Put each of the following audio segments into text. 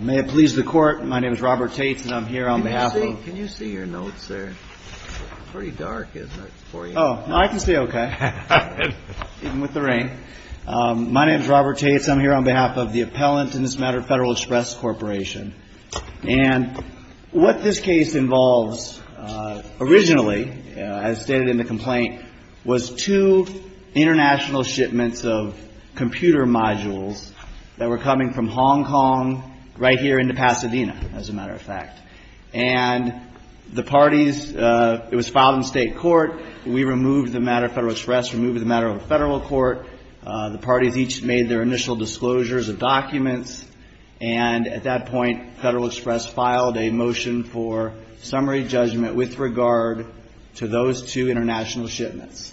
May it please the Court, my name is Robert Taitz and I'm here on behalf of Can you see your notes there? It's pretty dark, isn't it, for you? Oh, no, I can see okay, even with the rain. My name is Robert Taitz, I'm here on behalf of the appellant in this matter, Federal Express Corporation. And what this case involves, originally, as stated in the complaint, was two international shipments of computer modules that were coming from Hong Kong right here into Pasadena, as a matter of fact. And the parties, it was filed in state court, we removed the matter, Federal Express removed the matter of a federal court, the parties each made their initial disclosures of documents, and at that point, Federal Express filed a motion for summary judgment with regard to those two international shipments.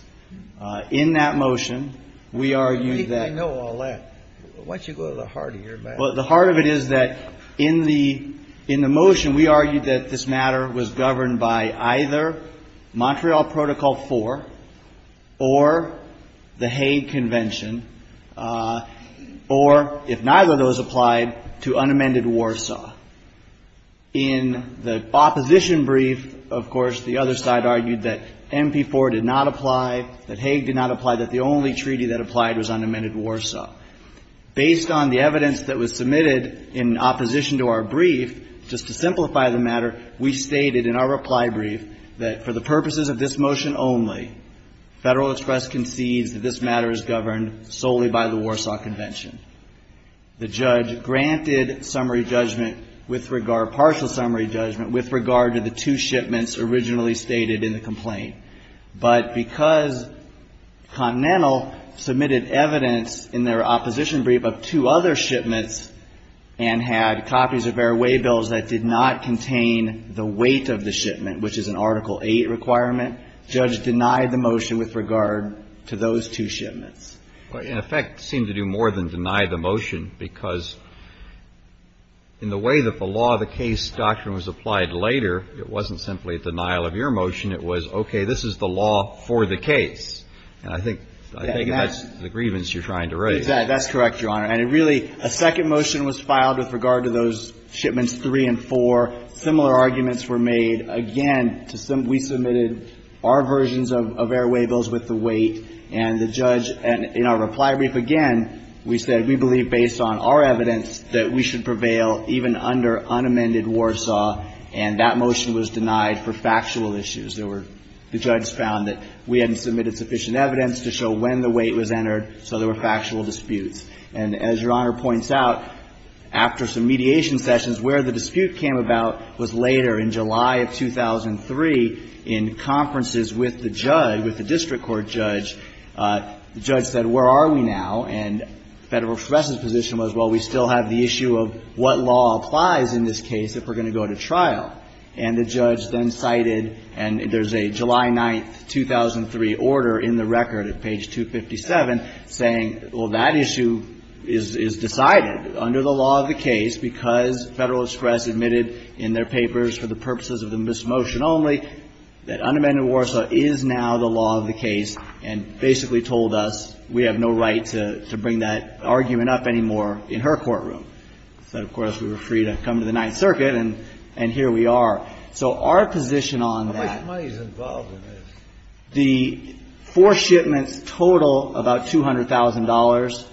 In that motion, we argued that I think I know all that. Why don't you go to the heart of your matter? Well, the heart of it is that in the motion, we argued that this matter was governed by either Montreal Protocol 4 or the Hague Convention, or, if neither of those applied, to unamended Warsaw. In the opposition brief, of course, the other side argued that MP4 did not apply, that Hague did not apply, that the only treaty that applied was unamended Warsaw. Based on the evidence that was submitted in opposition to our brief, just to simplify the matter, we stated in our reply brief that for the purposes of this motion only, Federal Express concedes that this matter is governed solely by the Warsaw Convention. The judge granted summary judgment with regard, partial summary judgment, with regard to the two shipments originally stated in the complaint. But because Continental submitted evidence in their opposition brief of two other shipments and had copies of airway bills that did not contain the weight of the shipment, which is an Article VIII requirement, the judge denied the motion with regard to those two shipments. Well, in effect, seemed to do more than deny the motion, because in the way that the law of the case doctrine was applied later, it wasn't simply a denial of your motion. It was, okay, this is the law for the case. And I think that's the grievance you're trying to raise. That's correct, Your Honor. And it really, a second motion was filed with regard to those shipments 3 and 4. Similar arguments were made. Again, we submitted our versions of airway bills with the weight, and the judge, in our reply brief again, we said, we believe based on our evidence that we should prevail even under unamended Warsaw, and that motion was denied for factual issues. There were, the judge found that we hadn't submitted sufficient evidence to show when the weight was entered, so there were factual disputes. And as Your Honor points out, after some mediation sessions, where the dispute came about was later, in July of 2003, in conferences with the judge, with the district court judge, the judge said, where are we now? And Federal Express's position was, well, we still have the issue of what law applies in this case if we're going to go to trial. And the judge then cited, and there's a July 9, 2003, order in the record at page 257 saying, well, that issue is decided under the law that unamended Warsaw is now the law of the case, and basically told us we have no right to bring that argument up anymore in her courtroom. Said, of course, we were free to come to the Ninth Circuit, and here we are. So our position on that. How much money is involved in this? The four shipments total about $200,000.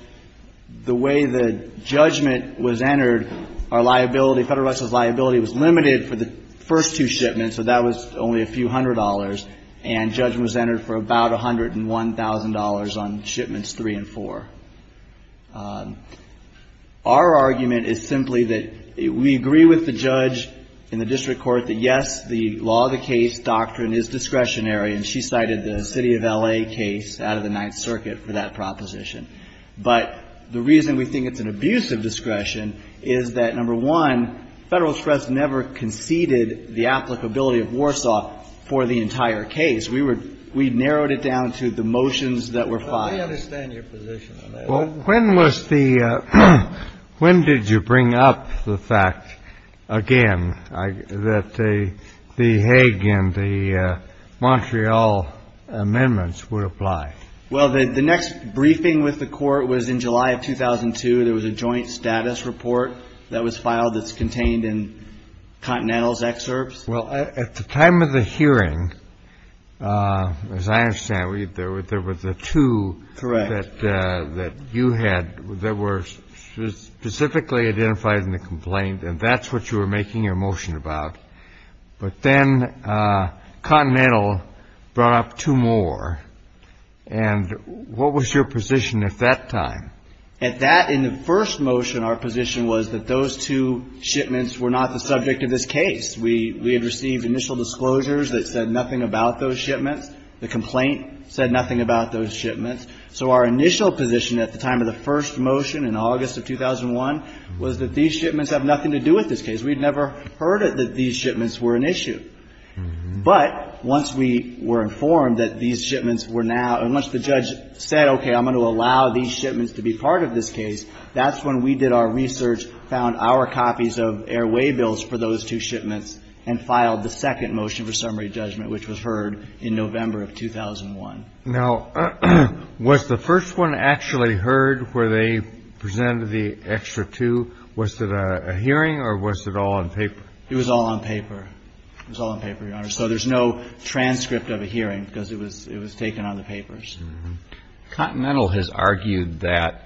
The way the judgment was entered, our liability, Federal Express's liability was limited for the first two shipments, so that was only a few hundred dollars, and judgment was entered for about $101,000 on shipments three and four. Our argument is simply that we agree with the judge in the district court that, yes, the law of the case doctrine is discretionary, and she cited the city of L.A. case out of the Ninth Circuit for that proposition. But the reason we think it's an abuse of discretion is that, number one, Federal Express never conceded the applicability of Warsaw for the entire case. We were ñ we narrowed it down to the motions that were filed. I understand your position on that. Well, when was the ñ when did you bring up the fact, again, that the Hague and the Montreal amendments would apply? Well, the next briefing with the Court was in July of 2002. There was a joint status report that was filed that's contained in Continental's excerpts. Well, at the time of the hearing, as I understand it, there were the two that you had that were specifically identified in the complaint, and that's what you were making your motion about. But then Continental brought up two more. And what was your position at that time? At that ñ in the first motion, our position was that those two shipments were not the subject of this case. We had received initial disclosures that said nothing about those shipments. The complaint said nothing about those shipments. So our initial position at the time of the first motion, in August of 2001, was that these shipments have nothing to do with this case. We'd never heard that these shipments were an issue. But once we were informed that these shipments were now ñ and once the judge said, okay, I'm going to allow these shipments to be part of this case, that's when we did our research, found our copies of airway bills for those two shipments, and filed the second motion for summary judgment, which was heard in November of 2001. Now, was the first one actually heard where they presented the extra two? Was it a hearing, or was it all on paper? It was all on paper. It was all on paper, Your Honor. So there's no transcript of a hearing, because it was taken on the papers. Continental has argued that,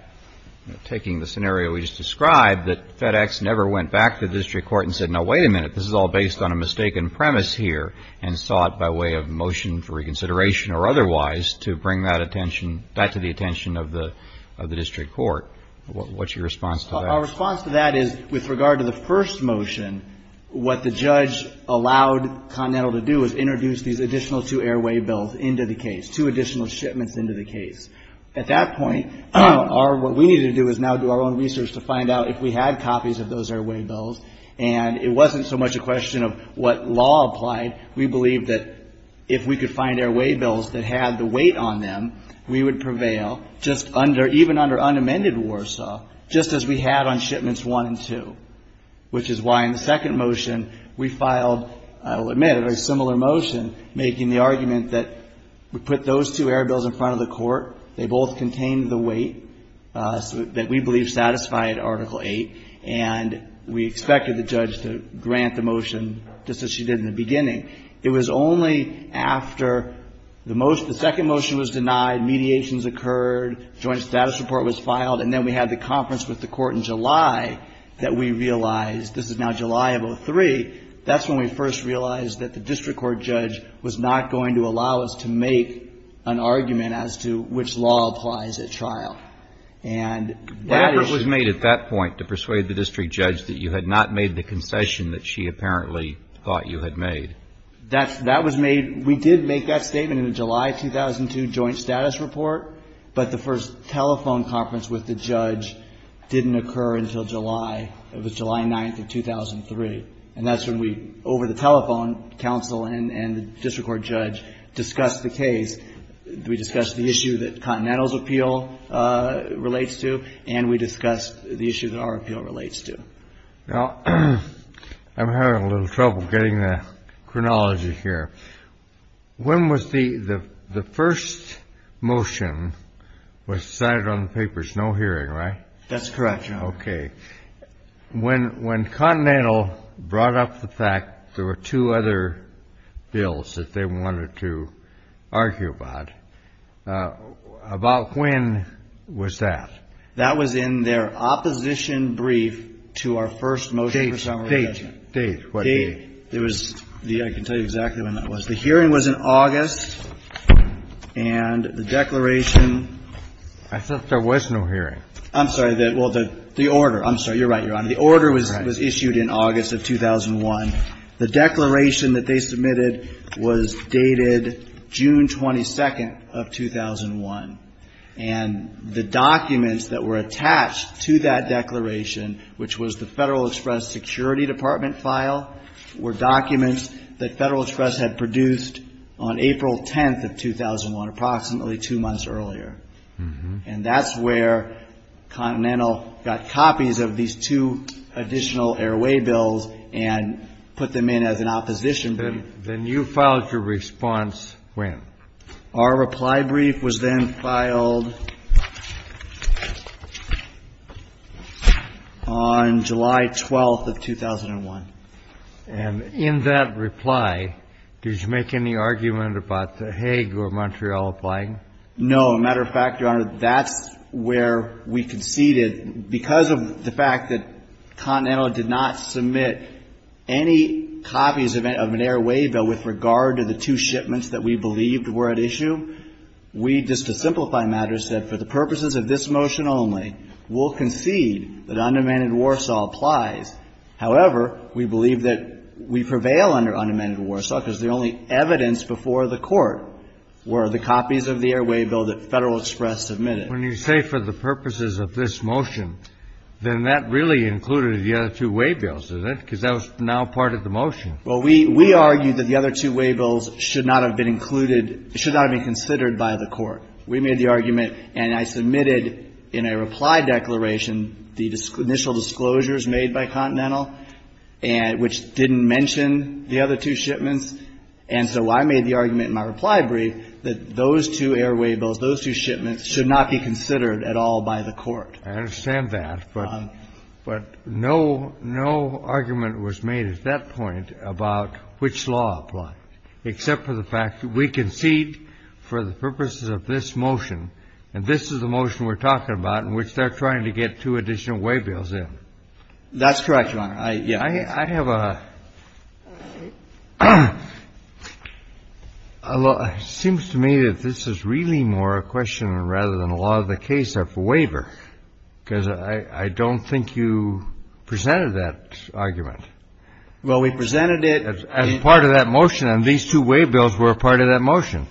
taking the scenario we just described, that FedEx never went back to the district court and said, now wait a minute, this is all based on a mistaken premise here, and sought by way of motion for reconsideration or otherwise to bring that attention ñ that to the attention of the district court. What's your response to that? Our response to that is, with regard to the first motion, what the judge allowed Continental to do was introduce these additional two airway bills into the case, two additional shipments into the case. At that point, what we needed to do is now do our own research to find out if we had copies of those airway bills, and it wasn't so much a question of what law applied. We believed that if we could find airway bills that had the weight on them, we would prevail, even under unamended Warsaw, just as we had on shipments one and two, which is why in the second motion we filed, I will admit, a very similar motion, making the argument that we put those two air bills in front of the court, they both contained the weight that we believed satisfied Article VIII, and we expected the judge to grant the motion just as she did in the beginning. It was only after the second motion was denied, mediations occurred, joint status report was filed, and then we had the conference with the court in July that we realized, this is now July of 03, that's when we first realized that the district court judge was not going to allow us to make an argument as to which law applies at trial. And that is the... The effort was made at that point to persuade the district judge that you had not made the concession that she apparently thought you had made. That was made, we did make that statement in the July 2002 joint status report, but the first telephone conference with the judge didn't occur until July. It was July 9th of 2003. And that's when we, over the telephone, counsel and the district court judge discussed the case. We discussed the issue that Continental's appeal relates to, and we discussed the issue that our appeal relates to. Now, I'm having a little trouble getting the chronology here. When was the first motion decided on the papers? No hearing, right? That's correct, Your Honor. Okay. When Continental brought up the fact there were two other bills that they wanted to argue about, about when was that? That was in their opposition brief to our first motion for summary judgment. Date, what date? I can tell you exactly when that was. The hearing was in August, and the declaration. I thought there was no hearing. I'm sorry. Well, the order. I'm sorry. You're right, Your Honor. The order was issued in August of 2001. The declaration that they submitted was dated June 22nd of 2001. And the documents that were attached to that declaration, which was the Federal Express Security Department file, were documents that Federal Express had produced on April 10th of 2001, approximately two months earlier. And that's where Continental got copies of these two additional airway bills and put them in as an opposition brief. Then you filed your response when? Our reply brief was then filed on July 12th of 2001. And in that reply, did you make any argument about the Hague or Montreal applying? No. As a matter of fact, Your Honor, that's where we conceded, because of the fact that Continental did not submit any copies of an airway bill with regard to the two shipments that we believed were at issue. We, just to simplify matters, said for the purposes of this motion only, we'll concede that undemanded Warsaw applies. However, we believe that we prevail under undemanded Warsaw because the only evidence before the Court were the copies of the airway bill that Federal Express submitted. When you say for the purposes of this motion, then that really included the other two waybills, isn't it? Because that was now part of the motion. Well, we argued that the other two waybills should not have been included, should not have been considered by the Court. We made the argument, and I submitted in a reply declaration the initial disclosures made by Continental, which didn't mention the other two shipments. And so I made the argument in my reply brief that those two airway bills, those two shipments should not be considered at all by the Court. I understand that. But no argument was made at that point about which law applied, except for the fact that we concede for the purposes of this motion, and this is the motion we're talking about in which they're trying to get two additional waybills in. That's correct, Your Honor. I have a law that seems to me that this is really more a question rather than a law of the case of waiver, because I don't think you presented that argument. Well, we presented it. As part of that motion, and these two waybills were a part of that motion.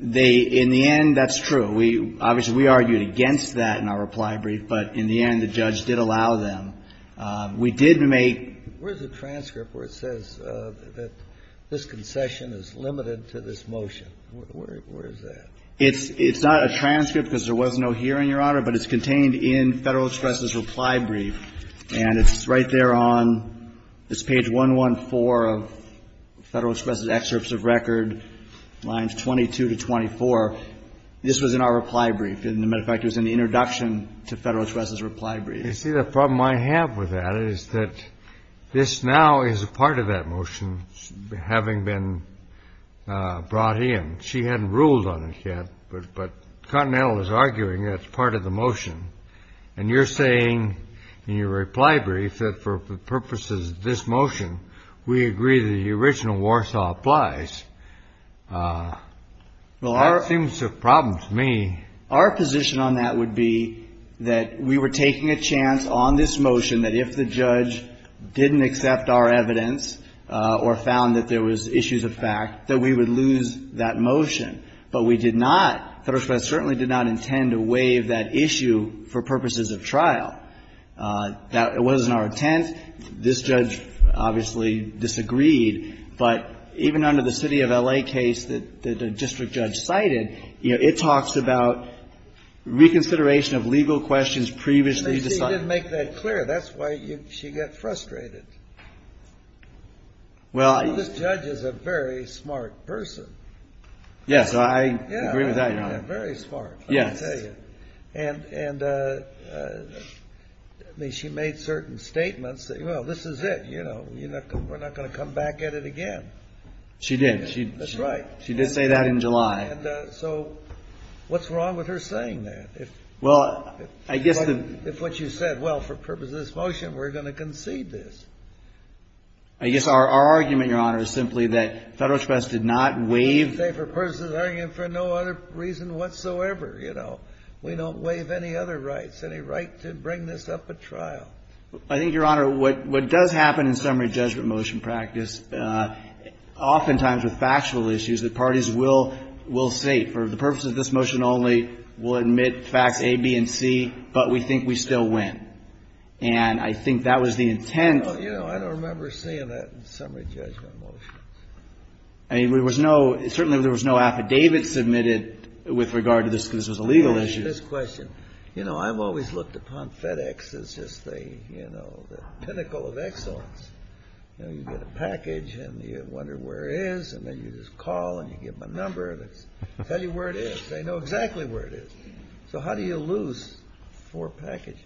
They, in the end, that's true. Obviously, we argued against that in our reply brief, but in the end, the judge did allow them. We did make. Where's the transcript where it says that this concession is limited to this motion? Where is that? It's not a transcript because there was no hearing, Your Honor, but it's contained in Federal Express's reply brief, and it's right there on page 114 of Federal Express's excerpts of record, lines 22 to 24. This was in our reply brief. As a matter of fact, it was in the introduction to Federal Express's reply brief. You see, the problem I have with that is that this now is a part of that motion having been brought in. She hadn't ruled on it yet, but Continental is arguing that's part of the motion, and you're saying in your reply brief that for the purposes of this motion, we agree that the original Warsaw applies. Well, that seems a problem to me. Our position on that would be that we were taking a chance on this motion that if the judge didn't accept our evidence or found that there was issues of fact, that we would lose that motion, but we did not, Federal Express certainly did not intend to waive that issue for purposes of trial. That wasn't our intent. This judge obviously disagreed. But even under the city of L.A. case that the district judge cited, you know, it talks about reconsideration of legal questions previously decided. You see, you didn't make that clear. That's why she got frustrated. This judge is a very smart person. Yes, I agree with that, Your Honor. Very smart, let me tell you. And she made certain statements that, well, this is it. You know, we're not going to come back at it again. She did. That's right. She did say that in July. So what's wrong with her saying that? Well, I guess the... I guess our argument, Your Honor, is simply that Federal Express did not waive... It's a safer person's argument for no other reason whatsoever, you know. We don't waive any other rights, any right to bring this up at trial. I think, Your Honor, what does happen in summary judgment motion practice, oftentimes with factual issues, the parties will say, for the purposes of this motion only, we'll admit facts A, B, and C, but we think we still win. And I think that was the intent. You know, I don't remember seeing that in summary judgment motions. I mean, there was no... Certainly, there was no affidavit submitted with regard to this because this was a legal issue. This question, you know, I've always looked upon FedEx as just the, you know, the pinnacle of excellence. You know, you get a package, and you wonder where it is, and then you just call, and you give them a number, and they tell you where it is. They know exactly where it is. So how do you lose four packages?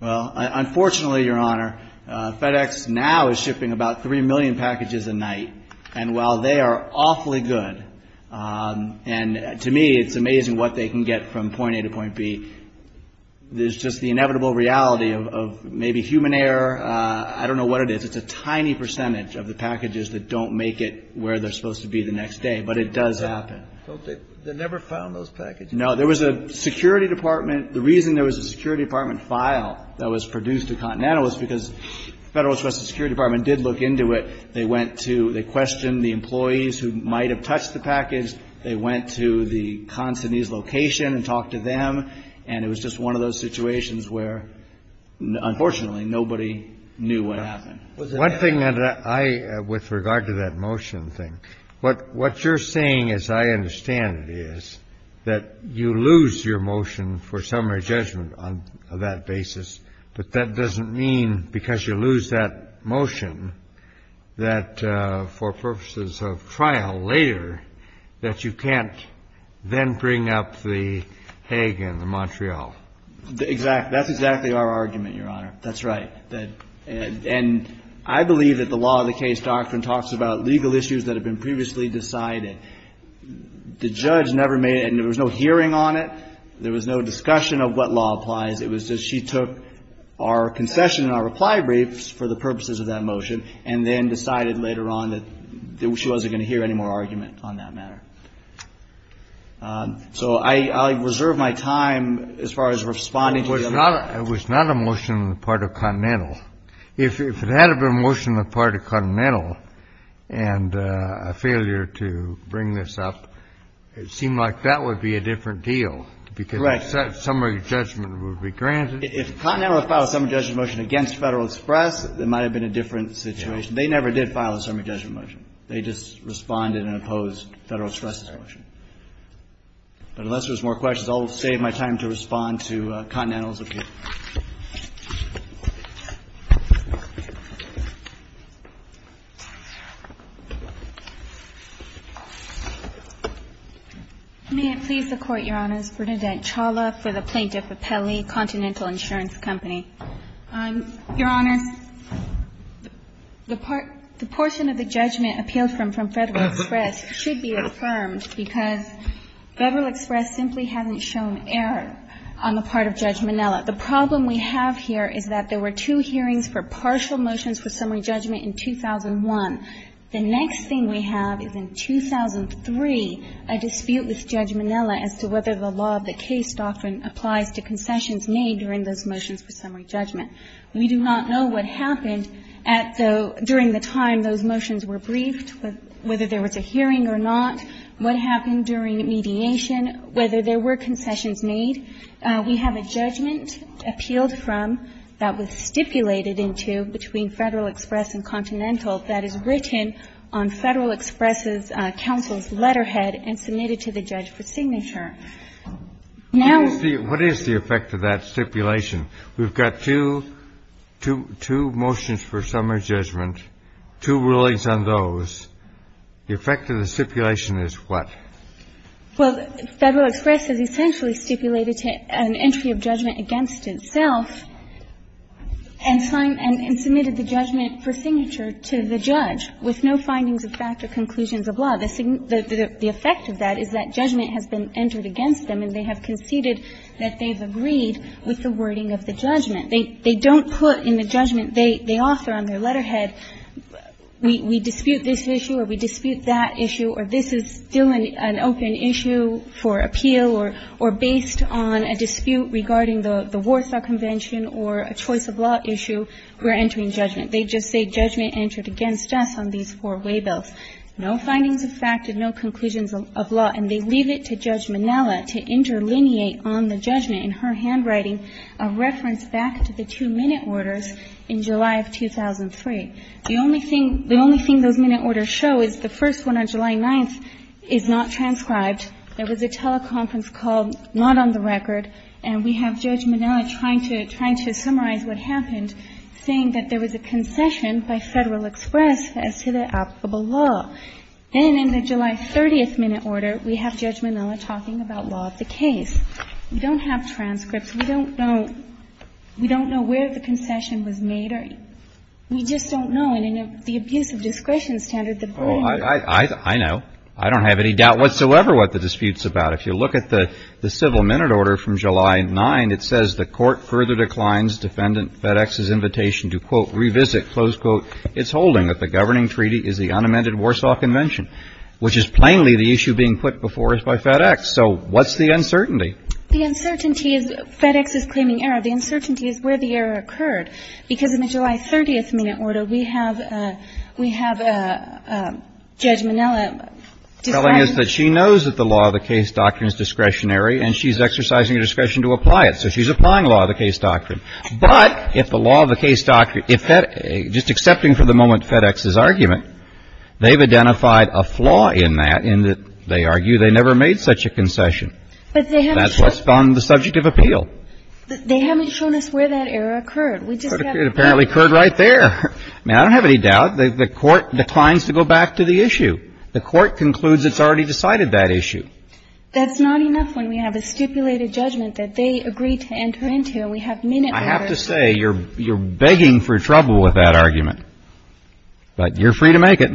Well, unfortunately, Your Honor, FedEx now is shipping about 3 million packages a night, and while they are awfully good, and to me, it's amazing what they can get from point A to point B, there's just the inevitable reality of maybe human error. I don't know what it is. It's a tiny percentage of the packages that don't make it where they're supposed to be the next day, but it does happen. They never found those packages. Now, there was a security department. The reason there was a security department file that was produced at Continental was because the Federal Security Department did look into it. They went to the question, the employees who might have touched the package. They went to the consignee's location and talked to them, and it was just one of those situations where, unfortunately, nobody knew what happened. One thing that I, with regard to that motion thing, what you're saying, as I understand it, is that you lose your motion for summary judgment on that basis, but that doesn't mean because you lose that motion that for purposes of trial later that you can't then bring up the Hague and the Montreal. Exactly. That's exactly our argument, Your Honor. That's right. And I believe that the law of the case doctrine talks about legal issues that have been previously decided. The judge never made it, and there was no hearing on it. There was no discussion of what law applies. It was just she took our concession and our reply briefs for the purposes of that motion and then decided later on that she wasn't going to hear any more argument on that matter. So I reserve my time as far as responding to the other motions. It was not a motion on the part of Continental. If it had been a motion on the part of Continental and a failure to bring this up, it seemed like that would be a different deal because summary judgment would be granted. If Continental had filed a summary judgment motion against Federal Express, it might have been a different situation. They never did file a summary judgment motion. They just responded and opposed Federal Express's motion. But unless there's more questions, I'll save my time to respond to Continental's appeal. May it please the Court, Your Honors. Bernadette Chawla for the Plaintiff Appellee, Continental Insurance Company. Your Honors, the portion of the judgment appealed from Federal Express should be affirmed because Federal Express simply hasn't shown error on the part of Judge Minella. The problem we have here is that there were two hearings for partial motions for summary judgment in 2001. The next thing we have is in 2003, a dispute with Judge Minella as to whether the law of the case doctrine applies to concessions made during those motions for summary judgment. We do not know what happened at the – during the time those motions were briefed, whether there was a hearing or not. What happened during mediation, whether there were concessions made. We have a judgment appealed from that was stipulated into between Federal Express and Continental that is written on Federal Express's counsel's letterhead and submitted to the judge for signature. Now the – What is the effect of that stipulation? We've got two motions for summary judgment, two rulings on those. The effect of the stipulation is what? Well, Federal Express has essentially stipulated an entry of judgment against itself and submitted the judgment for signature to the judge with no findings of fact or conclusions of law. The effect of that is that judgment has been entered against them and they have conceded that they've agreed with the wording of the judgment. They don't put in the judgment they offer on their letterhead, we dispute this issue or we dispute that issue or this is still an open issue for appeal or based on a dispute regarding the Warsaw Convention or a choice of law issue, we're entering judgment. They just say judgment entered against us on these four waybills. No findings of fact and no conclusions of law. And they leave it to Judge Minnella to interlineate on the judgment in her handwriting a reference back to the two minute orders in July of 2003. The only thing – the only thing those minute orders show is the first one on July 9th is not transcribed. There was a teleconference call not on the record and we have Judge Minnella trying to – trying to summarize what happened, saying that there was a concession by Federal Express as to the applicable law. Then in the July 30th minute order, we have Judge Minnella talking about law of the We don't have transcripts. We don't know – we don't know where the concession was made or – we just don't know in any of the abuse of discretion standard that – Oh, I know. I don't have any doubt whatsoever what the dispute's about. If you look at the civil minute order from July 9th, it says the court further declines defendant FedEx's invitation to, quote, revisit, close quote, its holding that the governing treaty is the unamended Warsaw Convention, which is plainly the issue being put before us by FedEx. So what's the uncertainty? The uncertainty is FedEx is claiming error. The uncertainty is where the error occurred. Because in the July 30th minute order, we have – we have Judge Minnella deciding – Telling us that she knows that the law of the case doctrine is discretionary and she's exercising her discretion to apply it. So she's applying law of the case doctrine. But if the law of the case doctrine – just accepting for the moment FedEx's argument, they've identified a flaw in that, in that they argue they never made such a concession. But they haven't – And that's what's on the subject of appeal. They haven't shown us where that error occurred. We just have – It apparently occurred right there. I mean, I don't have any doubt. The court declines to go back to the issue. The court concludes it's already decided that issue. That's not enough when we have a stipulated judgment that they agreed to enter into and we have minute order – I have to say, you're begging for trouble with that argument. But you're free to make it.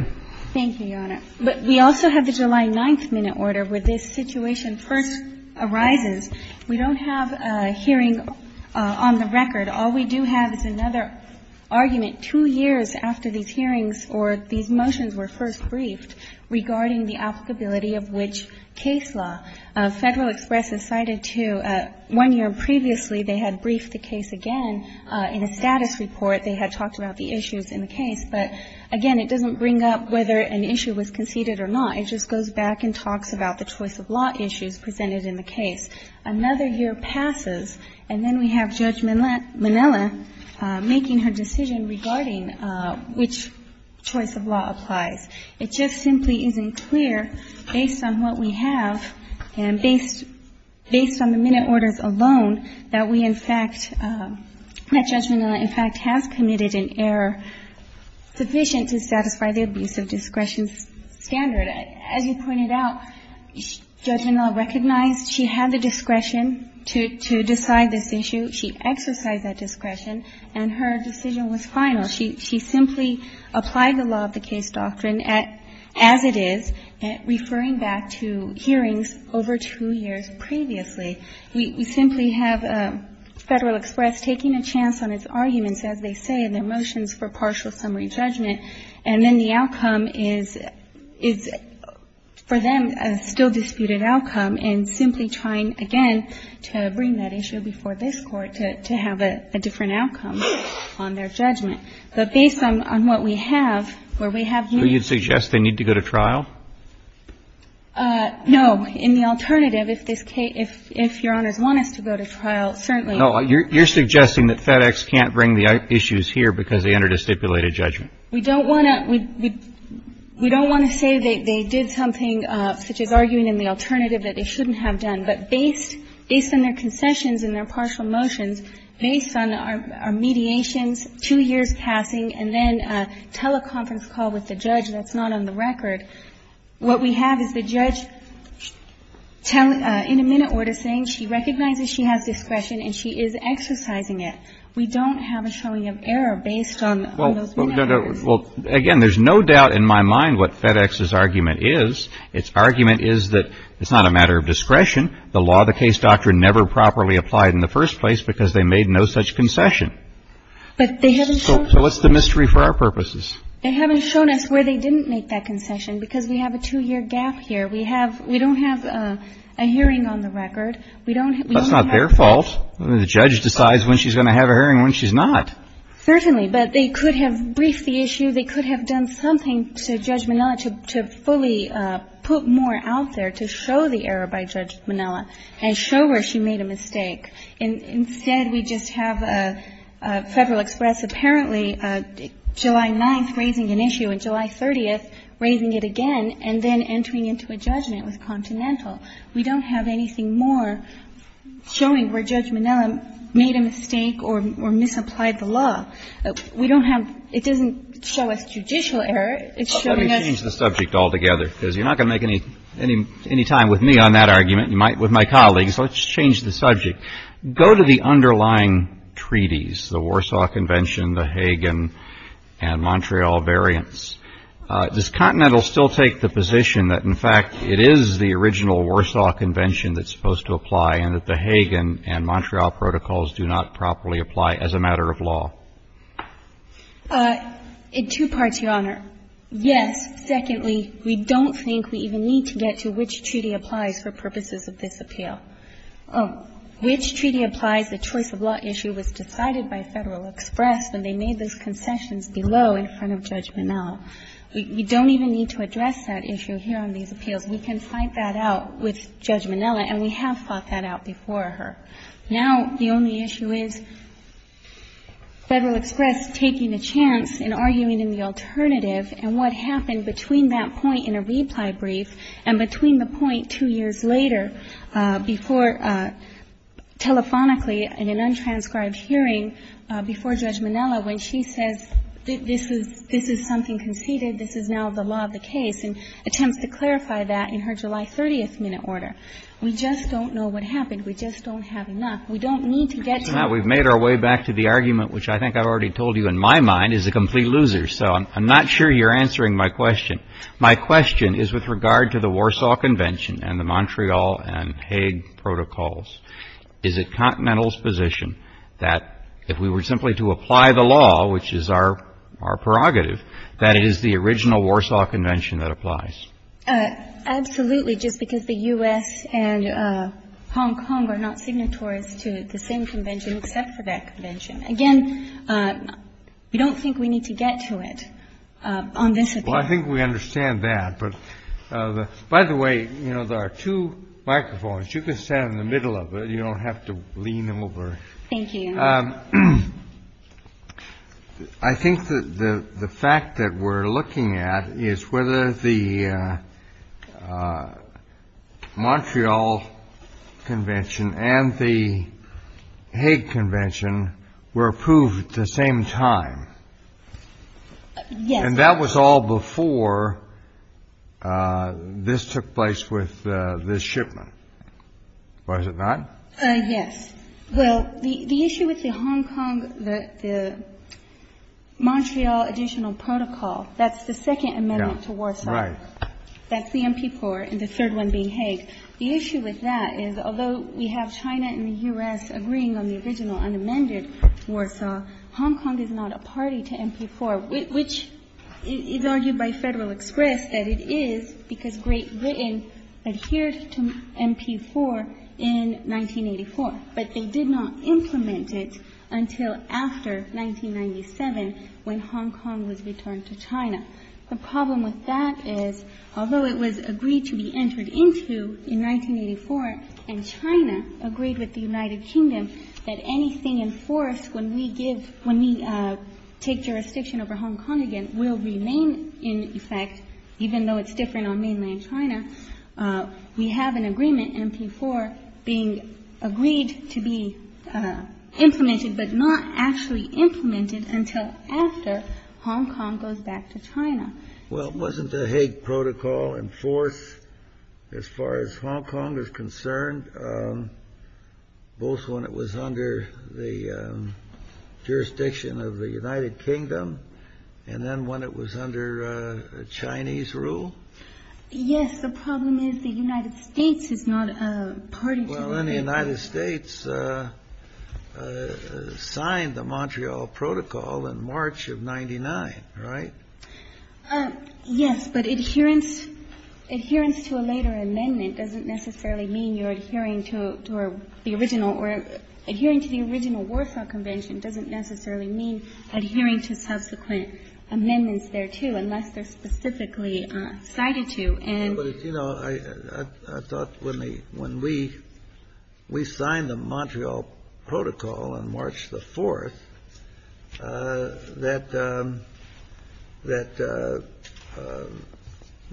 Thank you, Your Honor. But we also have the July 9th minute order where this situation first arises. We don't have a hearing on the record. All we do have is another argument two years after these hearings or these motions were first briefed regarding the applicability of which case law. Federal Express has cited to – one year previously they had briefed the case again in a status report. They had talked about the issues in the case. But, again, it doesn't bring up whether an issue was conceded or not. It just goes back and talks about the choice of law issues presented in the case. Another year passes, and then we have Judge Minella making her decision regarding which choice of law applies. It just simply isn't clear based on what we have and based on the minute orders alone that we in fact – that Judge Minella in fact has committed an error sufficient to satisfy the abuse of discretion standard. As you pointed out, Judge Minella recognized she had the discretion to decide this issue. She exercised that discretion, and her decision was final. She simply applied the law of the case doctrine as it is, referring back to hearings over two years previously. We simply have Federal Express taking a chance on its arguments, as they say, in their motions for partial summary judgment, and then the outcome is for them a still-disputed outcome, and simply trying again to bring that issue before this Court to have a different outcome on their judgment. But based on what we have, where we have units – Do you suggest they need to go to trial? No. In the alternative, if this case – if Your Honors want us to go to trial, certainly. No. You're suggesting that FedEx can't bring the issues here because they entered a stipulated judgment. We don't want to – we don't want to say they did something such as arguing in the alternative that they shouldn't have done. But based – based on their concessions and their partial motions, based on our mediations, two years passing, and then a teleconference call with the judge that's not on the tele – in a minute order saying she recognizes she has discretion and she is exercising it, we don't have a showing of error based on – Well, again, there's no doubt in my mind what FedEx's argument is. Its argument is that it's not a matter of discretion. The law of the case doctrine never properly applied in the first place because they made no such concession. But they haven't shown – So what's the mystery for our purposes? They haven't shown us where they didn't make that concession because we have a two-year gap here. We have – we don't have a hearing on the record. We don't have – That's not their fault. The judge decides when she's going to have a hearing and when she's not. Certainly. But they could have briefed the issue. They could have done something to Judge Minnella to fully put more out there to show the error by Judge Minnella and show her she made a mistake. Instead, we just have Federal Express apparently July 9th raising an issue and July 30th raising it again and then entering into a judgment with Continental. We don't have anything more showing where Judge Minnella made a mistake or misapplied the law. We don't have – it doesn't show us judicial error. It's showing us – Let me change the subject altogether because you're not going to make any time with me on that argument. You might with my colleagues. Let's change the subject. Go to the underlying treaties, the Warsaw Convention, the Hagan and Montreal variants. Does Continental still take the position that, in fact, it is the original Warsaw Convention that's supposed to apply and that the Hagan and Montreal protocols do not properly apply as a matter of law? In two parts, Your Honor. Yes, secondly, we don't think we even need to get to which treaty applies for purposes of this appeal. Which treaty applies, the choice of law issue was decided by Federal Express and they made those concessions below in front of Judge Minnella. We don't even need to address that issue here on these appeals. We can fight that out with Judge Minnella, and we have fought that out before her. Now the only issue is Federal Express taking a chance in arguing in the alternative and what happened between that point in a reply brief and between the point two years later before telephonically in an untranscribed hearing before Judge Minnella when she says this is something conceded, this is now the law of the case and attempts to clarify that in her July 30th minute order. We just don't know what happened. We just don't have enough. We don't need to get to that. We've made our way back to the argument which I think I've already told you in my mind is a complete loser. So I'm not sure you're answering my question. My question is with regard to the Warsaw Convention and the Montreal and Hague protocols. Is it Continental's position that if we were simply to apply the law, which is our prerogative, that it is the original Warsaw Convention that applies? Absolutely, just because the U.S. and Hong Kong are not signatories to the same convention except for that convention. Again, we don't think we need to get to it on this appeal. I think we understand that. By the way, there are two microphones. You can stand in the middle of it. You don't have to lean over. Thank you. I think the fact that we're looking at is whether the Montreal Convention and the Hague Convention were approved at the same time. Yes. And that was all before this took place with this shipment, was it not? Yes. Well, the issue with the Hong Kong, the Montreal additional protocol, that's the second amendment to Warsaw. Right. That's the MP4 and the third one being Hague. The issue with that is although we have China and the U.S. agreeing on the original unamended Warsaw, Hong Kong is not a party to MP4, which is argued by Federal Express that it is because Great Britain adhered to MP4 in 1984. But they did not implement it until after 1997 when Hong Kong was returned to China. The problem with that is although it was agreed to be entered into in 1984 and China agreed with the United Kingdom that anything in force when we give, when we take jurisdiction over Hong Kong again will remain in effect, even though it's different on mainland China. We have an agreement, MP4, being agreed to be implemented but not actually implemented until after Hong Kong goes back to China. Well, wasn't the Hague protocol in force as far as Hong Kong is concerned, both when it was under the jurisdiction of the United Kingdom and then when it was under Chinese rule? Yes. The problem is the United States is not a party to the Hague. Well, then the United States signed the Montreal Protocol in March of 99, right? Yes, but adherence to a later amendment doesn't necessarily mean you're adhering to the original or adhering to the original Warsaw Convention doesn't necessarily mean adhering to subsequent amendments thereto unless they're specifically cited to. I thought when we signed the Montreal Protocol on March the 4th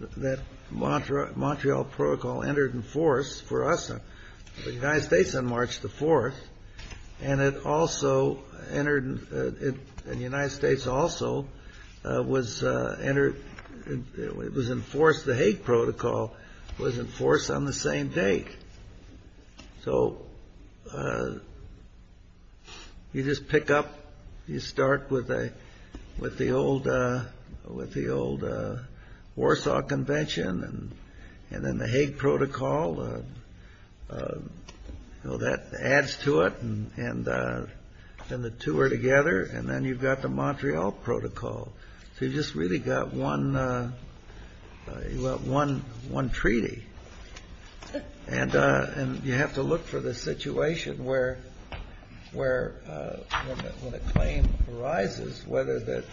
that Montreal Protocol entered in force for us, the United States, on March the 4th and it also entered, and the United States, the Montreal Protocol was enforced on the same day. So you just pick up, you start with the old Warsaw Convention and then the Hague Protocol. That adds to it and then the two are together and then you've got the Montreal Protocol. So you've just really got one treaty and you have to look for the situation where when a claim arises, whether the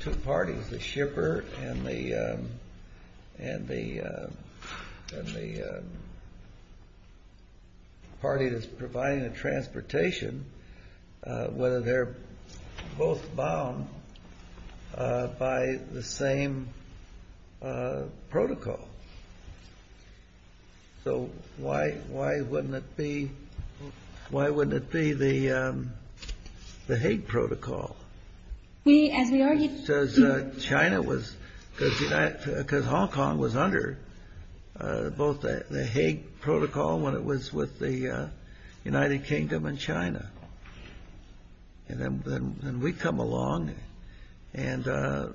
two parties, the shipper and the party that's providing the transportation, whether they're both bound by the same protocol. So why wouldn't it be the Hague Protocol? Because Hong Kong was under both the Hague Protocol when it was with the United Kingdom and China. And then we come along and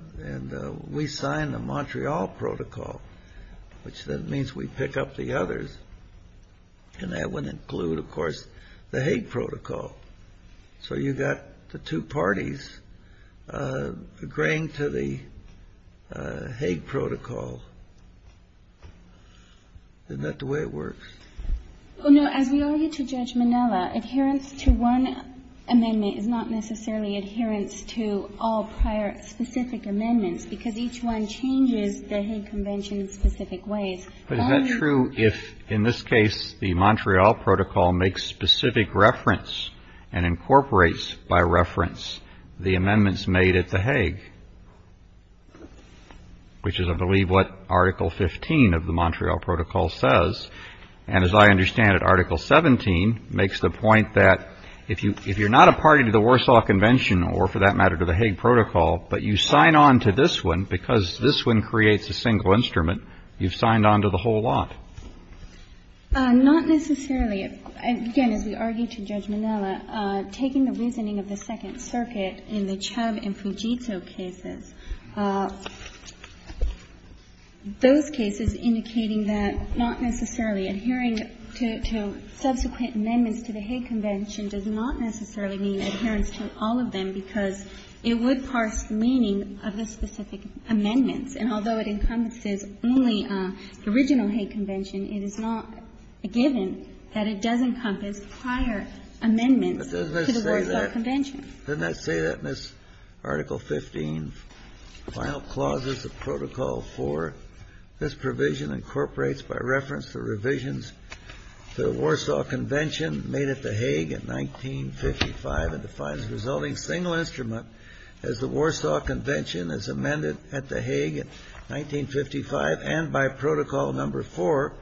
we sign the Montreal Protocol, which then means we pick up the others and that would include, of course, the Hague Protocol. So you've got the two parties agreeing to the Hague Protocol. Isn't that the way it works? Well, no, as we all need to judge Manila, adherence to one amendment is not necessarily adherence to all prior specific amendments because each one changes the Hague Convention in specific ways. But is that true if, in this case, the Montreal Protocol makes specific reference and incorporates by reference the amendments made at the Hague, which is, I believe, what Article 15 of the Montreal Protocol says. And as I understand it, Article 17 makes the point that if you're not a party to the Warsaw Convention or, for that matter, to the Hague Protocol, but you sign on to this one because this one creates a single instrument, you've signed on to the whole lot. Not necessarily. Again, as we argued to Judge Manila, taking the reasoning of the Second Circuit in the Chubb and Fugito cases, those cases indicating that not necessarily adhering to subsequent amendments to the Hague Convention does not necessarily mean adherence to all of them because it would parse the meaning of the specific amendments. And although it encompasses only the original Hague Convention, it is not a given that it does encompass prior amendments to the Warsaw Convention. Kennedy. Didn't I say that in this Article 15 final clauses of Protocol 4? This provision incorporates by reference the revisions to the Warsaw Convention made at the Hague in 1955 and defines the resulting single instrument as the Warsaw Convention as amended at the Hague in 1955 and by Protocol Number 4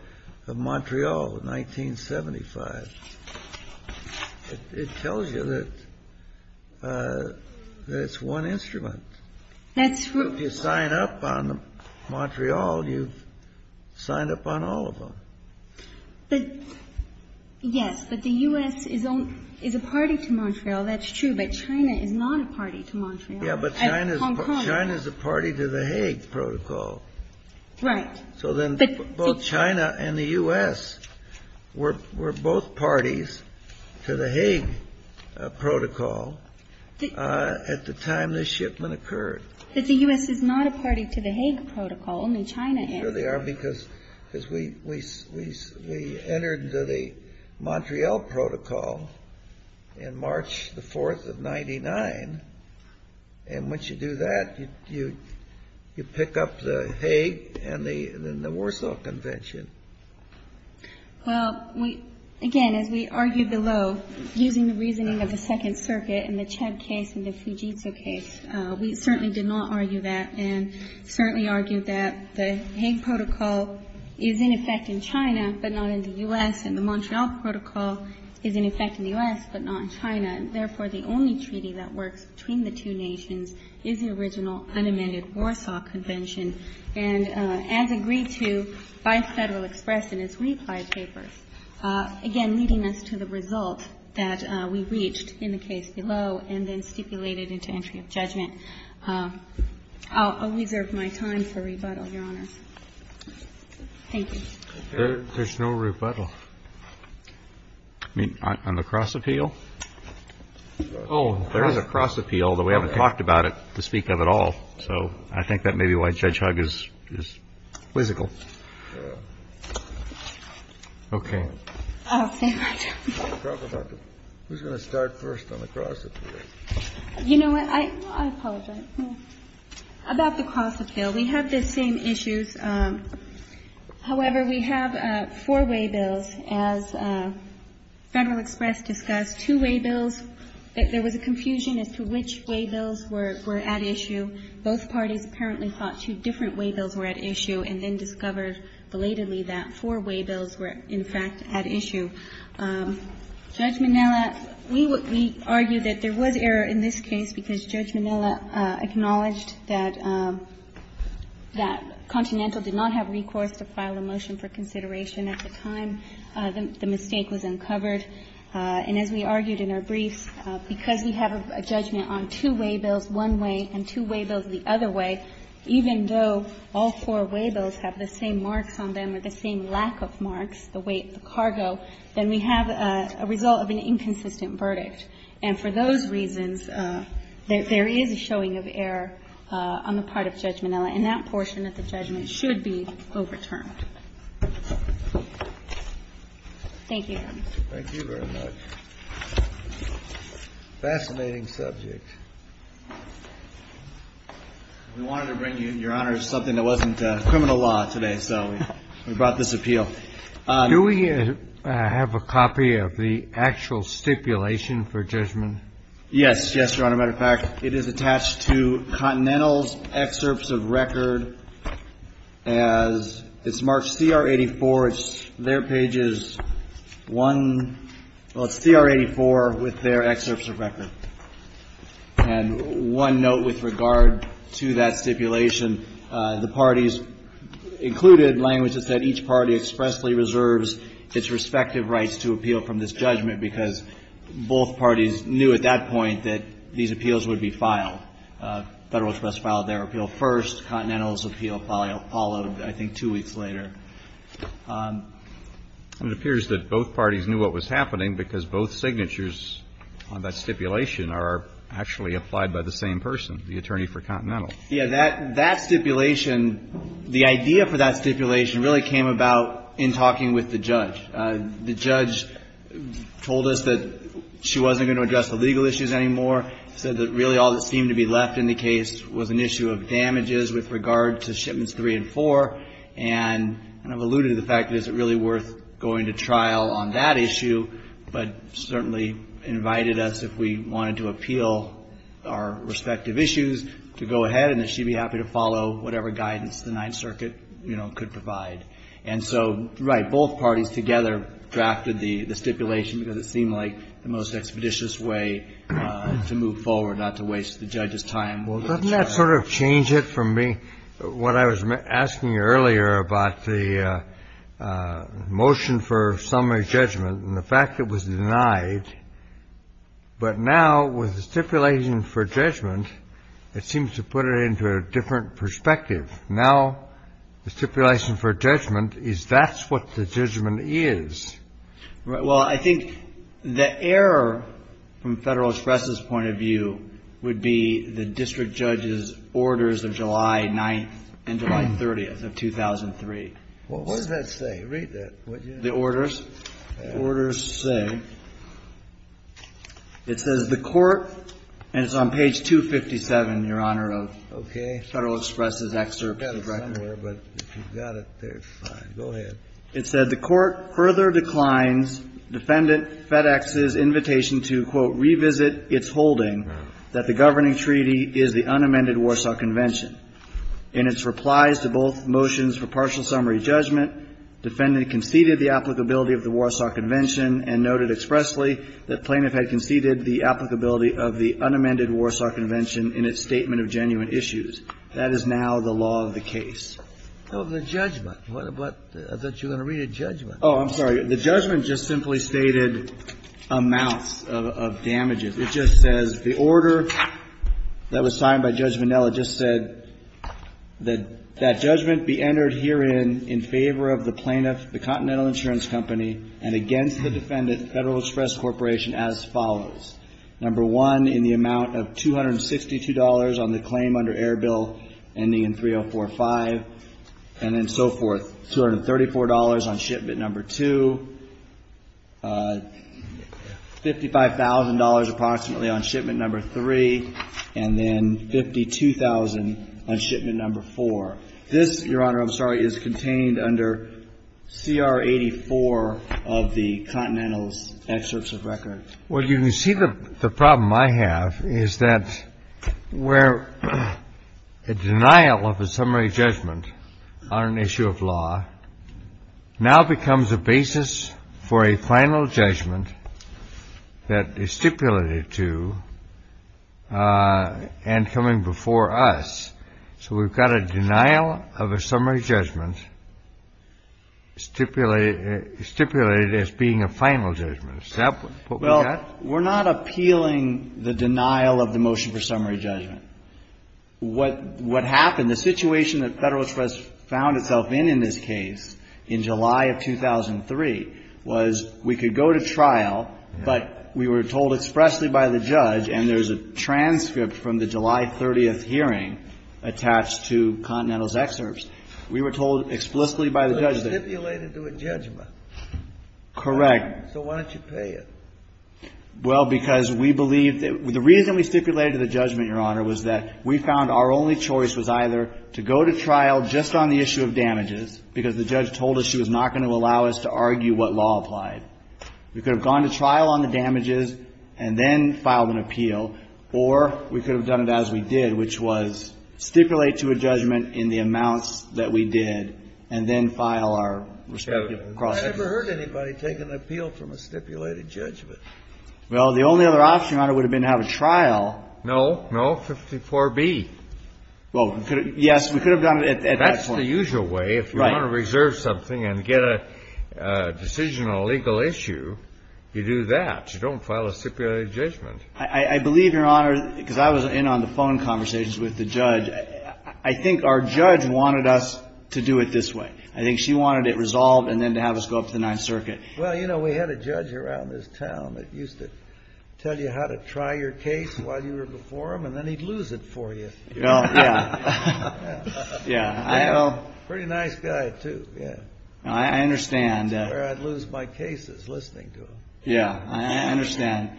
of Montreal in 1975. It tells you that it's one instrument. That's true. If you sign up on Montreal, you've signed up on all of them. But, yes, but the U.S. is a party to Montreal. That's true. But China is not a party to Montreal. Yeah, but China is a party to the Hague Protocol. Right. So then both China and the U.S. were both parties to the Hague Protocol at the time this shipment occurred. But the U.S. is not a party to the Hague Protocol. Only China is. No, they are because we entered into the Montreal Protocol in March the 4th of 1999. And once you do that, you pick up the Hague and the Warsaw Convention. Well, again, as we argued below, using the reasoning of the Second Circuit in the Chad case and the Fujitsu case, we certainly did not argue that and certainly argued that the Hague Protocol is in effect in China but not in the U.S. And the Montreal Protocol is in effect in the U.S. but not in China. Therefore, the only treaty that works between the two nations is the original unamended Warsaw Convention. And as agreed to by Federal Express in its reply papers, again, leading us to the result that we reached in the case below and then stipulated into entry of judgment. I'll reserve my time for rebuttal, Your Honor. Thank you. There's no rebuttal. I mean, on the cross-appeal? Oh, there is a cross-appeal, although we haven't talked about it to speak of at all. So I think that may be why Judge Hugg is quizzical. Okay. I'll stay my turn. Who's going to start first on the cross-appeal? You know what? I apologize. About the cross-appeal, we have the same issues. However, we have four waybills. As Federal Express discussed, two waybills. There was a confusion as to which waybills were at issue. Both parties apparently thought two different waybills were at issue and then discovered belatedly that four waybills were, in fact, at issue. Judge Minnella, we argue that there was error in this case because Judge Minnella acknowledged that Continental did not have recourse to file a motion for consideration at the time the mistake was uncovered. And as we argued in our briefs, because we have a judgment on two waybills one way and two waybills the other way, even though all four waybills have the same marks on them or the same lack of marks, the weight, the cargo, then we have a result of an inconsistent verdict. And for those reasons, there is a showing of error on the part of Judge Minnella. And that portion of the judgment should be overturned. Thank you. Thank you very much. Fascinating subject. We wanted to bring you, Your Honor, something that wasn't criminal law today. So we brought this appeal. Do we have a copy of the actual stipulation for judgment? Yes. Yes, Your Honor. Matter of fact, it is attached to Continental's excerpts of record as it's marked CR-84. It's their pages one, well, it's CR-84 with their excerpts of record. And one note with regard to that stipulation. The parties included language that said each party expressly reserves its respective rights to appeal from this judgment because both parties knew at that point that these appeals would be filed. Federal Express filed their appeal first. Continental's appeal followed, I think, two weeks later. It appears that both parties knew what was happening because both signatures on that stipulation are actually applied by the same person, the attorney for Continental. Yes. That stipulation, the idea for that stipulation really came about in talking with the judge. The judge told us that she wasn't going to address the legal issues anymore, said that really all that seemed to be left in the case was an issue of damages with regard to shipments three and four. And I've alluded to the fact, is it really worth going to trial on that issue? But certainly invited us if we wanted to appeal our respective issues to go ahead and that she'd be happy to follow whatever guidance the Ninth Circuit, you know, could provide. And so, right, both parties together drafted the stipulation because it seemed like the most expeditious way to move forward, not to waste the judge's time. Well, doesn't that sort of change it for me? What I was asking earlier about the motion for summary judgment and the fact it was denied. But now with the stipulation for judgment, it seems to put it into a different perspective. Now the stipulation for judgment is that's what the judgment is. Well, I think the error from Federal Express's point of view would be the district judge's orders of July 9th and July 30th of 2003. What does that say? Read that. The orders. Orders say. It says the court, and it's on page 257, Your Honor, of Federal Express's excerpt. I've got it somewhere, but if you've got it there, fine. Go ahead. It said, The court further declines Defendant FedEx's invitation to, quote, revisit its holding that the governing treaty is the unamended Warsaw Convention. In its replies to both motions for partial summary judgment, Defendant conceded the applicability of the Warsaw Convention and noted expressly that plaintiff had conceded the applicability of the unamended Warsaw Convention in its statement of genuine issues. That is now the law of the case. The judgment. I thought you were going to read a judgment. Oh, I'm sorry. The judgment just simply stated amounts of damages. It just says, The order that was signed by Judge Minnelli just said that that judgment be entered herein in favor of the plaintiff, the Continental Insurance Company, and against the Defendant, Federal Express Corporation, as follows. Number one, in the amount of $262 on the claim under Airbill ending in 3045, and then so forth. $234 on shipment number two, $55,000 approximately on shipment number three, and then $52,000 on shipment number four. This, Your Honor, I'm sorry, is contained under CR 84 of the Continental's excerpts of record. Well, you can see the problem I have is that where a denial of a summary judgment on an issue of law now becomes a basis for a final judgment that is stipulated to and coming before us. So we've got a denial of a summary judgment stipulated as being a final judgment. Exactly. Well, we're not appealing the denial of the motion for summary judgment. What happened, the situation that Federal Express found itself in, in this case, in July of 2003, was we could go to trial, but we were told expressly by the judge and there's a transcript from the July 30th hearing attached to Continental's excerpts, we were told explicitly by the judge that. It was stipulated to a judgment. Correct. So why don't you pay it? Well, because we believe that the reason we stipulated to the judgment, Your Honor, was that we found our only choice was either to go to trial just on the issue of damages because the judge told us she was not going to allow us to argue what law applied. We could have gone to trial on the damages and then filed an appeal, or we could have done it as we did, which was stipulate to a judgment in the amounts that we did and then file our respective cross-examination. I've never heard anybody take an appeal from a stipulated judgment. Well, the only other option, Your Honor, would have been to have a trial. No, no. 54B. Well, yes, we could have done it at that point. That's the usual way. Right. If you want to reserve something and get a decision on a legal issue, you do that. You don't file a stipulated judgment. I believe, Your Honor, because I was in on the phone conversations with the judge, I think our judge wanted us to do it this way. I think she wanted it resolved and then to have us go up to the Ninth Circuit. Well, you know, we had a judge around this town that used to tell you how to try your case while you were before him, and then he'd lose it for you. Yeah. Yeah. Pretty nice guy, too. Yeah. I understand. That's where I'd lose my cases, listening to him. Yeah. I understand.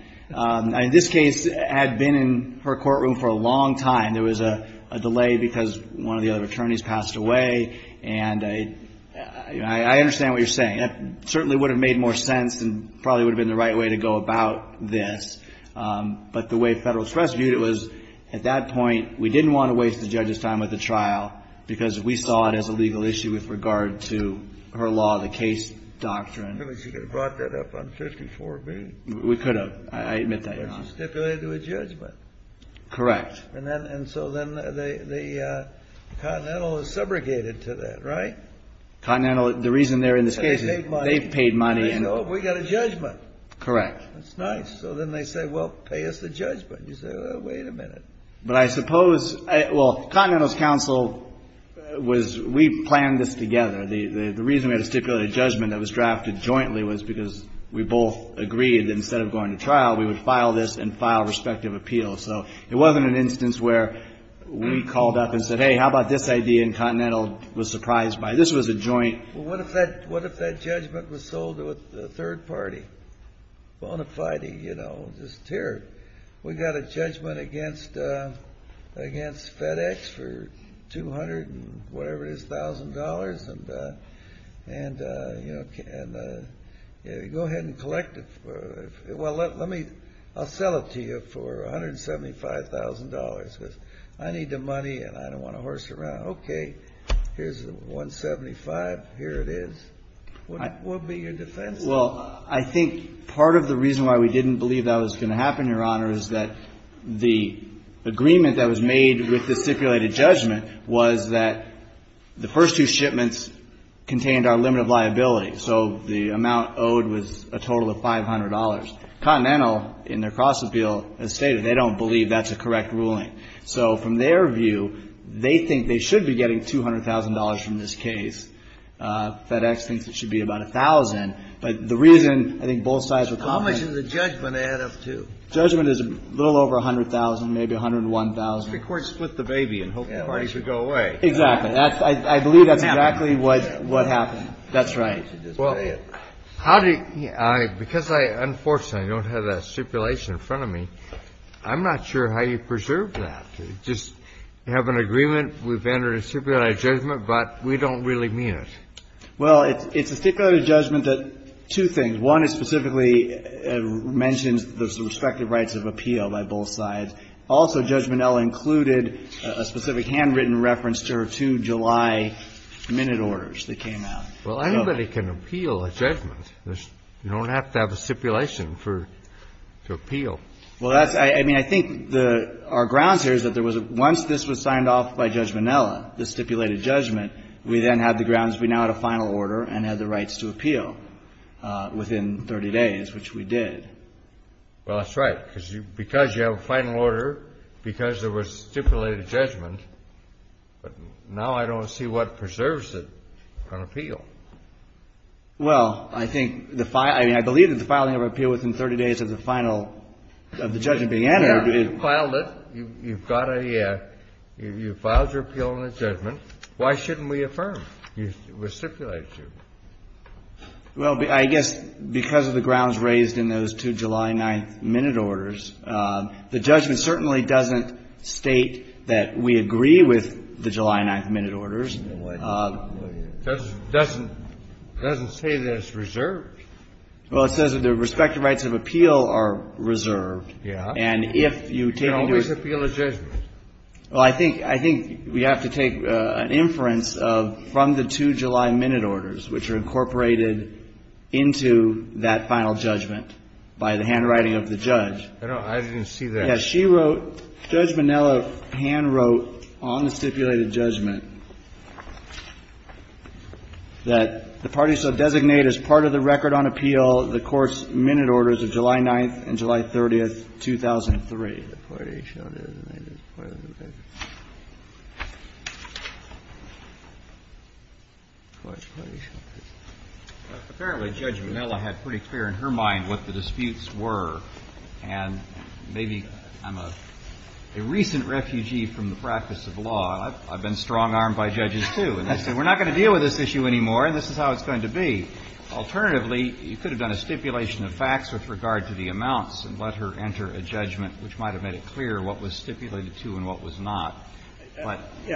This case had been in her courtroom for a long time. There was a delay because one of the other attorneys passed away. And I understand what you're saying. That certainly would have made more sense and probably would have been the right way to go about this. But the way Federal Express viewed it was, at that point, we didn't want to waste the judge's time with the trial because we saw it as a legal issue with regard to her law, the case doctrine. She could have brought that up on 54B. We could have. I admit that, Your Honor. But she stipulated a judgment. Correct. And so then the Continental is subrogated to that, right? The reason they're in this case is they've paid money. We've got a judgment. Correct. That's nice. So then they say, well, pay us the judgment. You say, wait a minute. But I suppose, well, Continental's counsel was, we planned this together. The reason we had to stipulate a judgment that was drafted jointly was because we both agreed that instead of going to trial, we would file this and file respective appeals. So it wasn't an instance where we called up and said, hey, how about this idea, and Continental was surprised by it. This was a joint. Well, what if that judgment was sold to a third party? Bonafide, you know, just terrible. We've got a judgment against FedEx for 200 and whatever it is, $1,000. And, you know, go ahead and collect it. Well, let me, I'll sell it to you for $175,000 because I need the money and I don't want to horse around. Okay. Here's the 175. Here it is. What would be your defense? Well, I think part of the reason why we didn't believe that was going to happen, Your Honor, is that the agreement that was made with the stipulated judgment was that the first two shipments contained our limit of liability. So the amount owed was a total of $500. Continental, in their cross-appeal, has stated they don't believe that's a correct ruling. So from their view, they think they should be getting $200,000 from this case. FedEx thinks it should be about $1,000. But the reason I think both sides were confident. How much did the judgment add up to? Judgment is a little over $100,000, maybe $101,000. If the Court split the baby and hoped the party would go away. Exactly. I believe that's exactly what happened. That's right. Well, how do you – because I, unfortunately, don't have that stipulation in front of me, I'm not sure how you preserve that. Just have an agreement, we've entered a stipulated judgment, but we don't really mean it. Well, it's a stipulated judgment that two things. One, it specifically mentions the respective rights of appeal by both sides. Also, judgment L included a specific handwritten reference to her two July minute orders that came out. Well, anybody can appeal a judgment. You don't have to have a stipulation for – to appeal. Well, that's – I mean, I think the – our grounds here is that there was a – once this was signed off by Judge Minnella, the stipulated judgment, we then had the grounds we now had a final order and had the rights to appeal within 30 days, which we did. Well, that's right. Because you have a final order, because there was stipulated judgment, but now I don't see what preserves it on appeal. Well, I think the – I mean, I believe that the filing of an appeal within 30 days of the final – of the judgment being entered is – You filed it. You've got a – you filed your appeal on a judgment. Why shouldn't we affirm your stipulated judgment? Well, I guess because of the grounds raised in those two July 9th minute orders, the judgment certainly doesn't state that we agree with the July 9th minute orders. It doesn't say that it's reserved. Well, it says that the respective rights of appeal are reserved. Yeah. And if you take into – You can always appeal a judgment. Well, I think – I think we have to take an inference of – from the two July minute orders, which are incorporated into that final judgment by the handwriting of the judge. I don't – I didn't see that. Yeah. She wrote – Judge Minnella handwrote on the stipulated judgment that the parties shall designate as part of the record on appeal the court's minute orders of July 9th and July 30th, 2003. The parties shall designate as part of the record. Apparently, Judge Minnella had pretty clear in her mind what the disputes were. And maybe I'm a – a recent refugee from the practice of law. I've been strong-armed by judges, too. And they say, we're not going to deal with this issue anymore, and this is how it's going to be. Alternatively, you could have done a stipulation of facts with regard to the amounts and let her enter a judgment which might have made it clear what was stipulated to and what was not.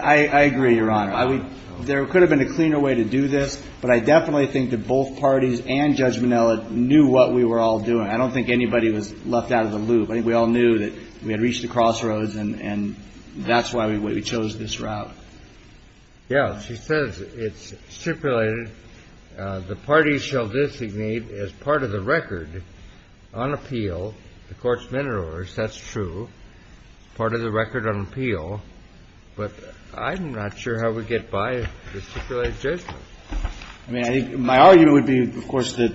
I agree, Your Honor. There could have been a cleaner way to do this, but I definitely think that both parties and Judge Minnella knew what we were all doing. I don't think anybody was left out of the loop. I think we all knew that we had reached the crossroads, and that's why we chose this route. Yeah. She says it's stipulated the parties shall designate as part of the record on appeal the court's minute orders. That's true. Part of the record on appeal, but I'm not sure how we get by the stipulated judgment. I mean, I think my argument would be, of course, that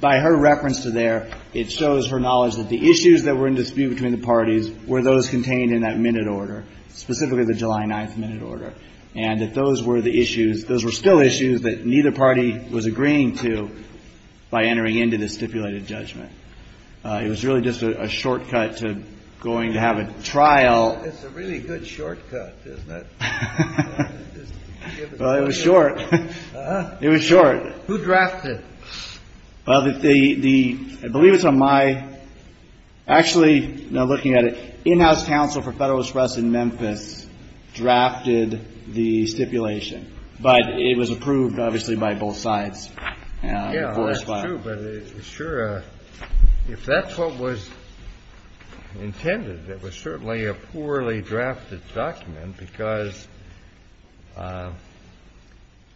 by her reference to there, it shows her knowledge that the issues that were in dispute between the parties were those contained in that minute order, specifically the July 9th minute order, and that those were the issues – those were still issues that neither party was agreeing to by entering into the stipulated judgment. It was really just a shortcut to going to have a trial. It's a really good shortcut, isn't it? Well, it was short. It was short. Who drafted? Well, the – I believe it's on my – actually, now looking at it, in-house counsel for Federalist Press in Memphis drafted the stipulation, but it was approved, obviously, by both sides. Yeah, that's true. But it's sure – if that's what was intended, it was certainly a poorly drafted document, because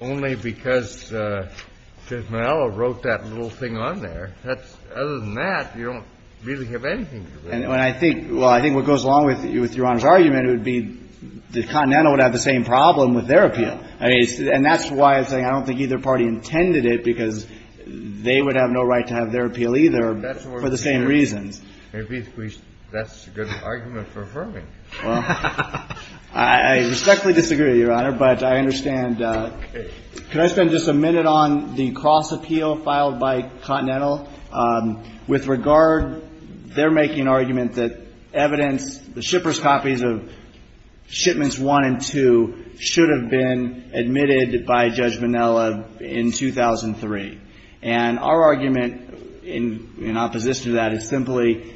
only because Judge Manalo wrote that little thing on there, that's – other than that, you don't really have anything to do with it. And I think – well, I think what goes along with Your Honor's argument would be the Continental would have the same problem with their appeal. I mean, and that's why I'm saying I don't think either party intended it, because they would have no right to have their appeal either for the same reasons. That's a good argument for affirming. Well, I respectfully disagree, Your Honor, but I understand – could I spend just a minute on the cross-appeal filed by Continental with regard – they're making an argument that evidence – the shipper's copies of Shipments 1 and 2 should have been admitted by Judge Manalo in 2003. And our argument in opposition to that is simply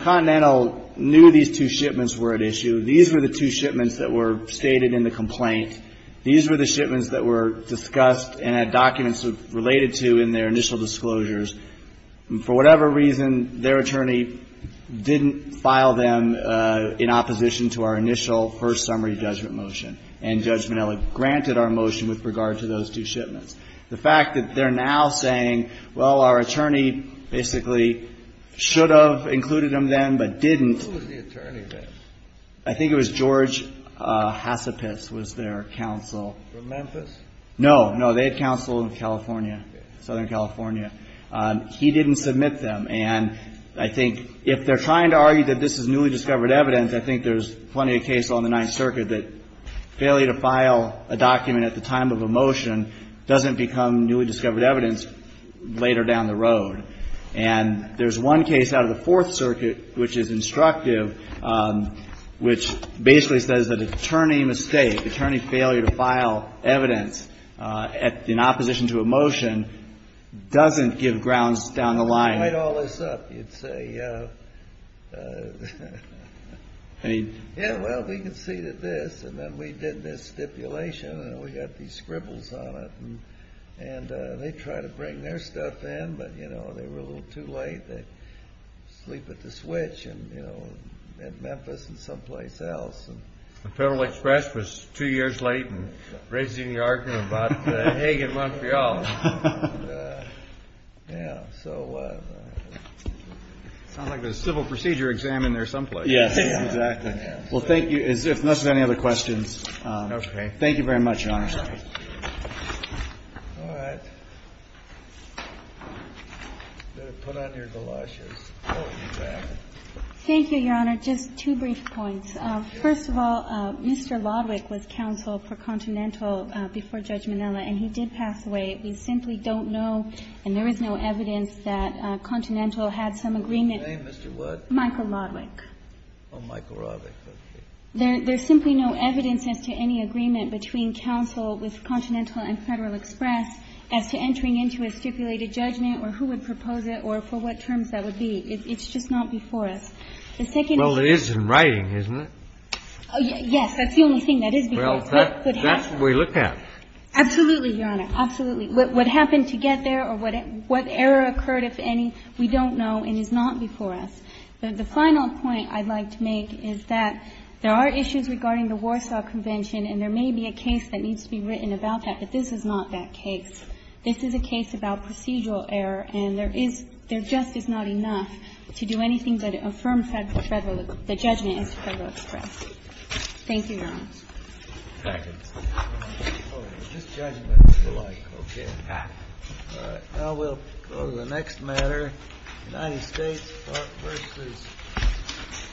Continental knew these two shipments were at issue. These were the two shipments that were stated in the complaint. These were the shipments that were discussed and had documents related to in their initial disclosures. And for whatever reason, their attorney didn't file them in opposition to our initial first summary judgment motion. And Judge Manalo granted our motion with regard to those two shipments. The fact that they're now saying, well, our attorney basically should have included them then but didn't. Who was the attorney then? I think it was George Hacipis was their counsel. From Memphis? No. No, they had counsel in California, Southern California. He didn't submit them. And I think if they're trying to argue that this is newly discovered evidence, I think there's plenty of cases on the Ninth Circuit that failure to file a document at the time of a motion doesn't become newly discovered evidence later down the road. And there's one case out of the Fourth Circuit which is instructive, which basically says that attorney mistake, attorney failure to file evidence in opposition to a motion doesn't give grounds down the line. If you write all this up, you'd say, yeah, well, we can see that this and then we did this stipulation and we got these scribbles on it. And they try to bring their stuff in, but they were a little too late. They sleep at the switch at Memphis and someplace else. The Federal Express was two years late in raising the argument about Hague and Montreal. Yeah. So it sounds like there's a civil procedure examined there someplace. Yes. Exactly. Well, thank you. Unless there's any other questions. Okay. Thank you very much, Your Honor. All right. Put on your galoshes. Thank you, Your Honor. Just two brief points. First of all, Mr. Lodwick was counsel for Continental before Judge Manilla, and he did pass away last week. We simply don't know and there is no evidence that Continental had some agreement with Michael Lodwick. Oh, Michael Lodwick. There's simply no evidence as to any agreement between counsel with Continental and Federal Express as to entering into a stipulated judgment or who would propose it or for what terms that would be. It's just not before us. Well, it is in writing, isn't it? Yes. That is before us. That's what we look at. Absolutely, Your Honor. Absolutely. What happened to get there or what error occurred, if any, we don't know and is not before us. The final point I'd like to make is that there are issues regarding the Warsaw Convention and there may be a case that needs to be written about that, but this is not that case. This is a case about procedural error and there is — there just is not enough to do anything but affirm that the judgment is Federal Express. Thank you, Your Honor. Thank you. Oh, we're just judging by people like. Okay. All right. Now we'll go to the next matter, United States versus —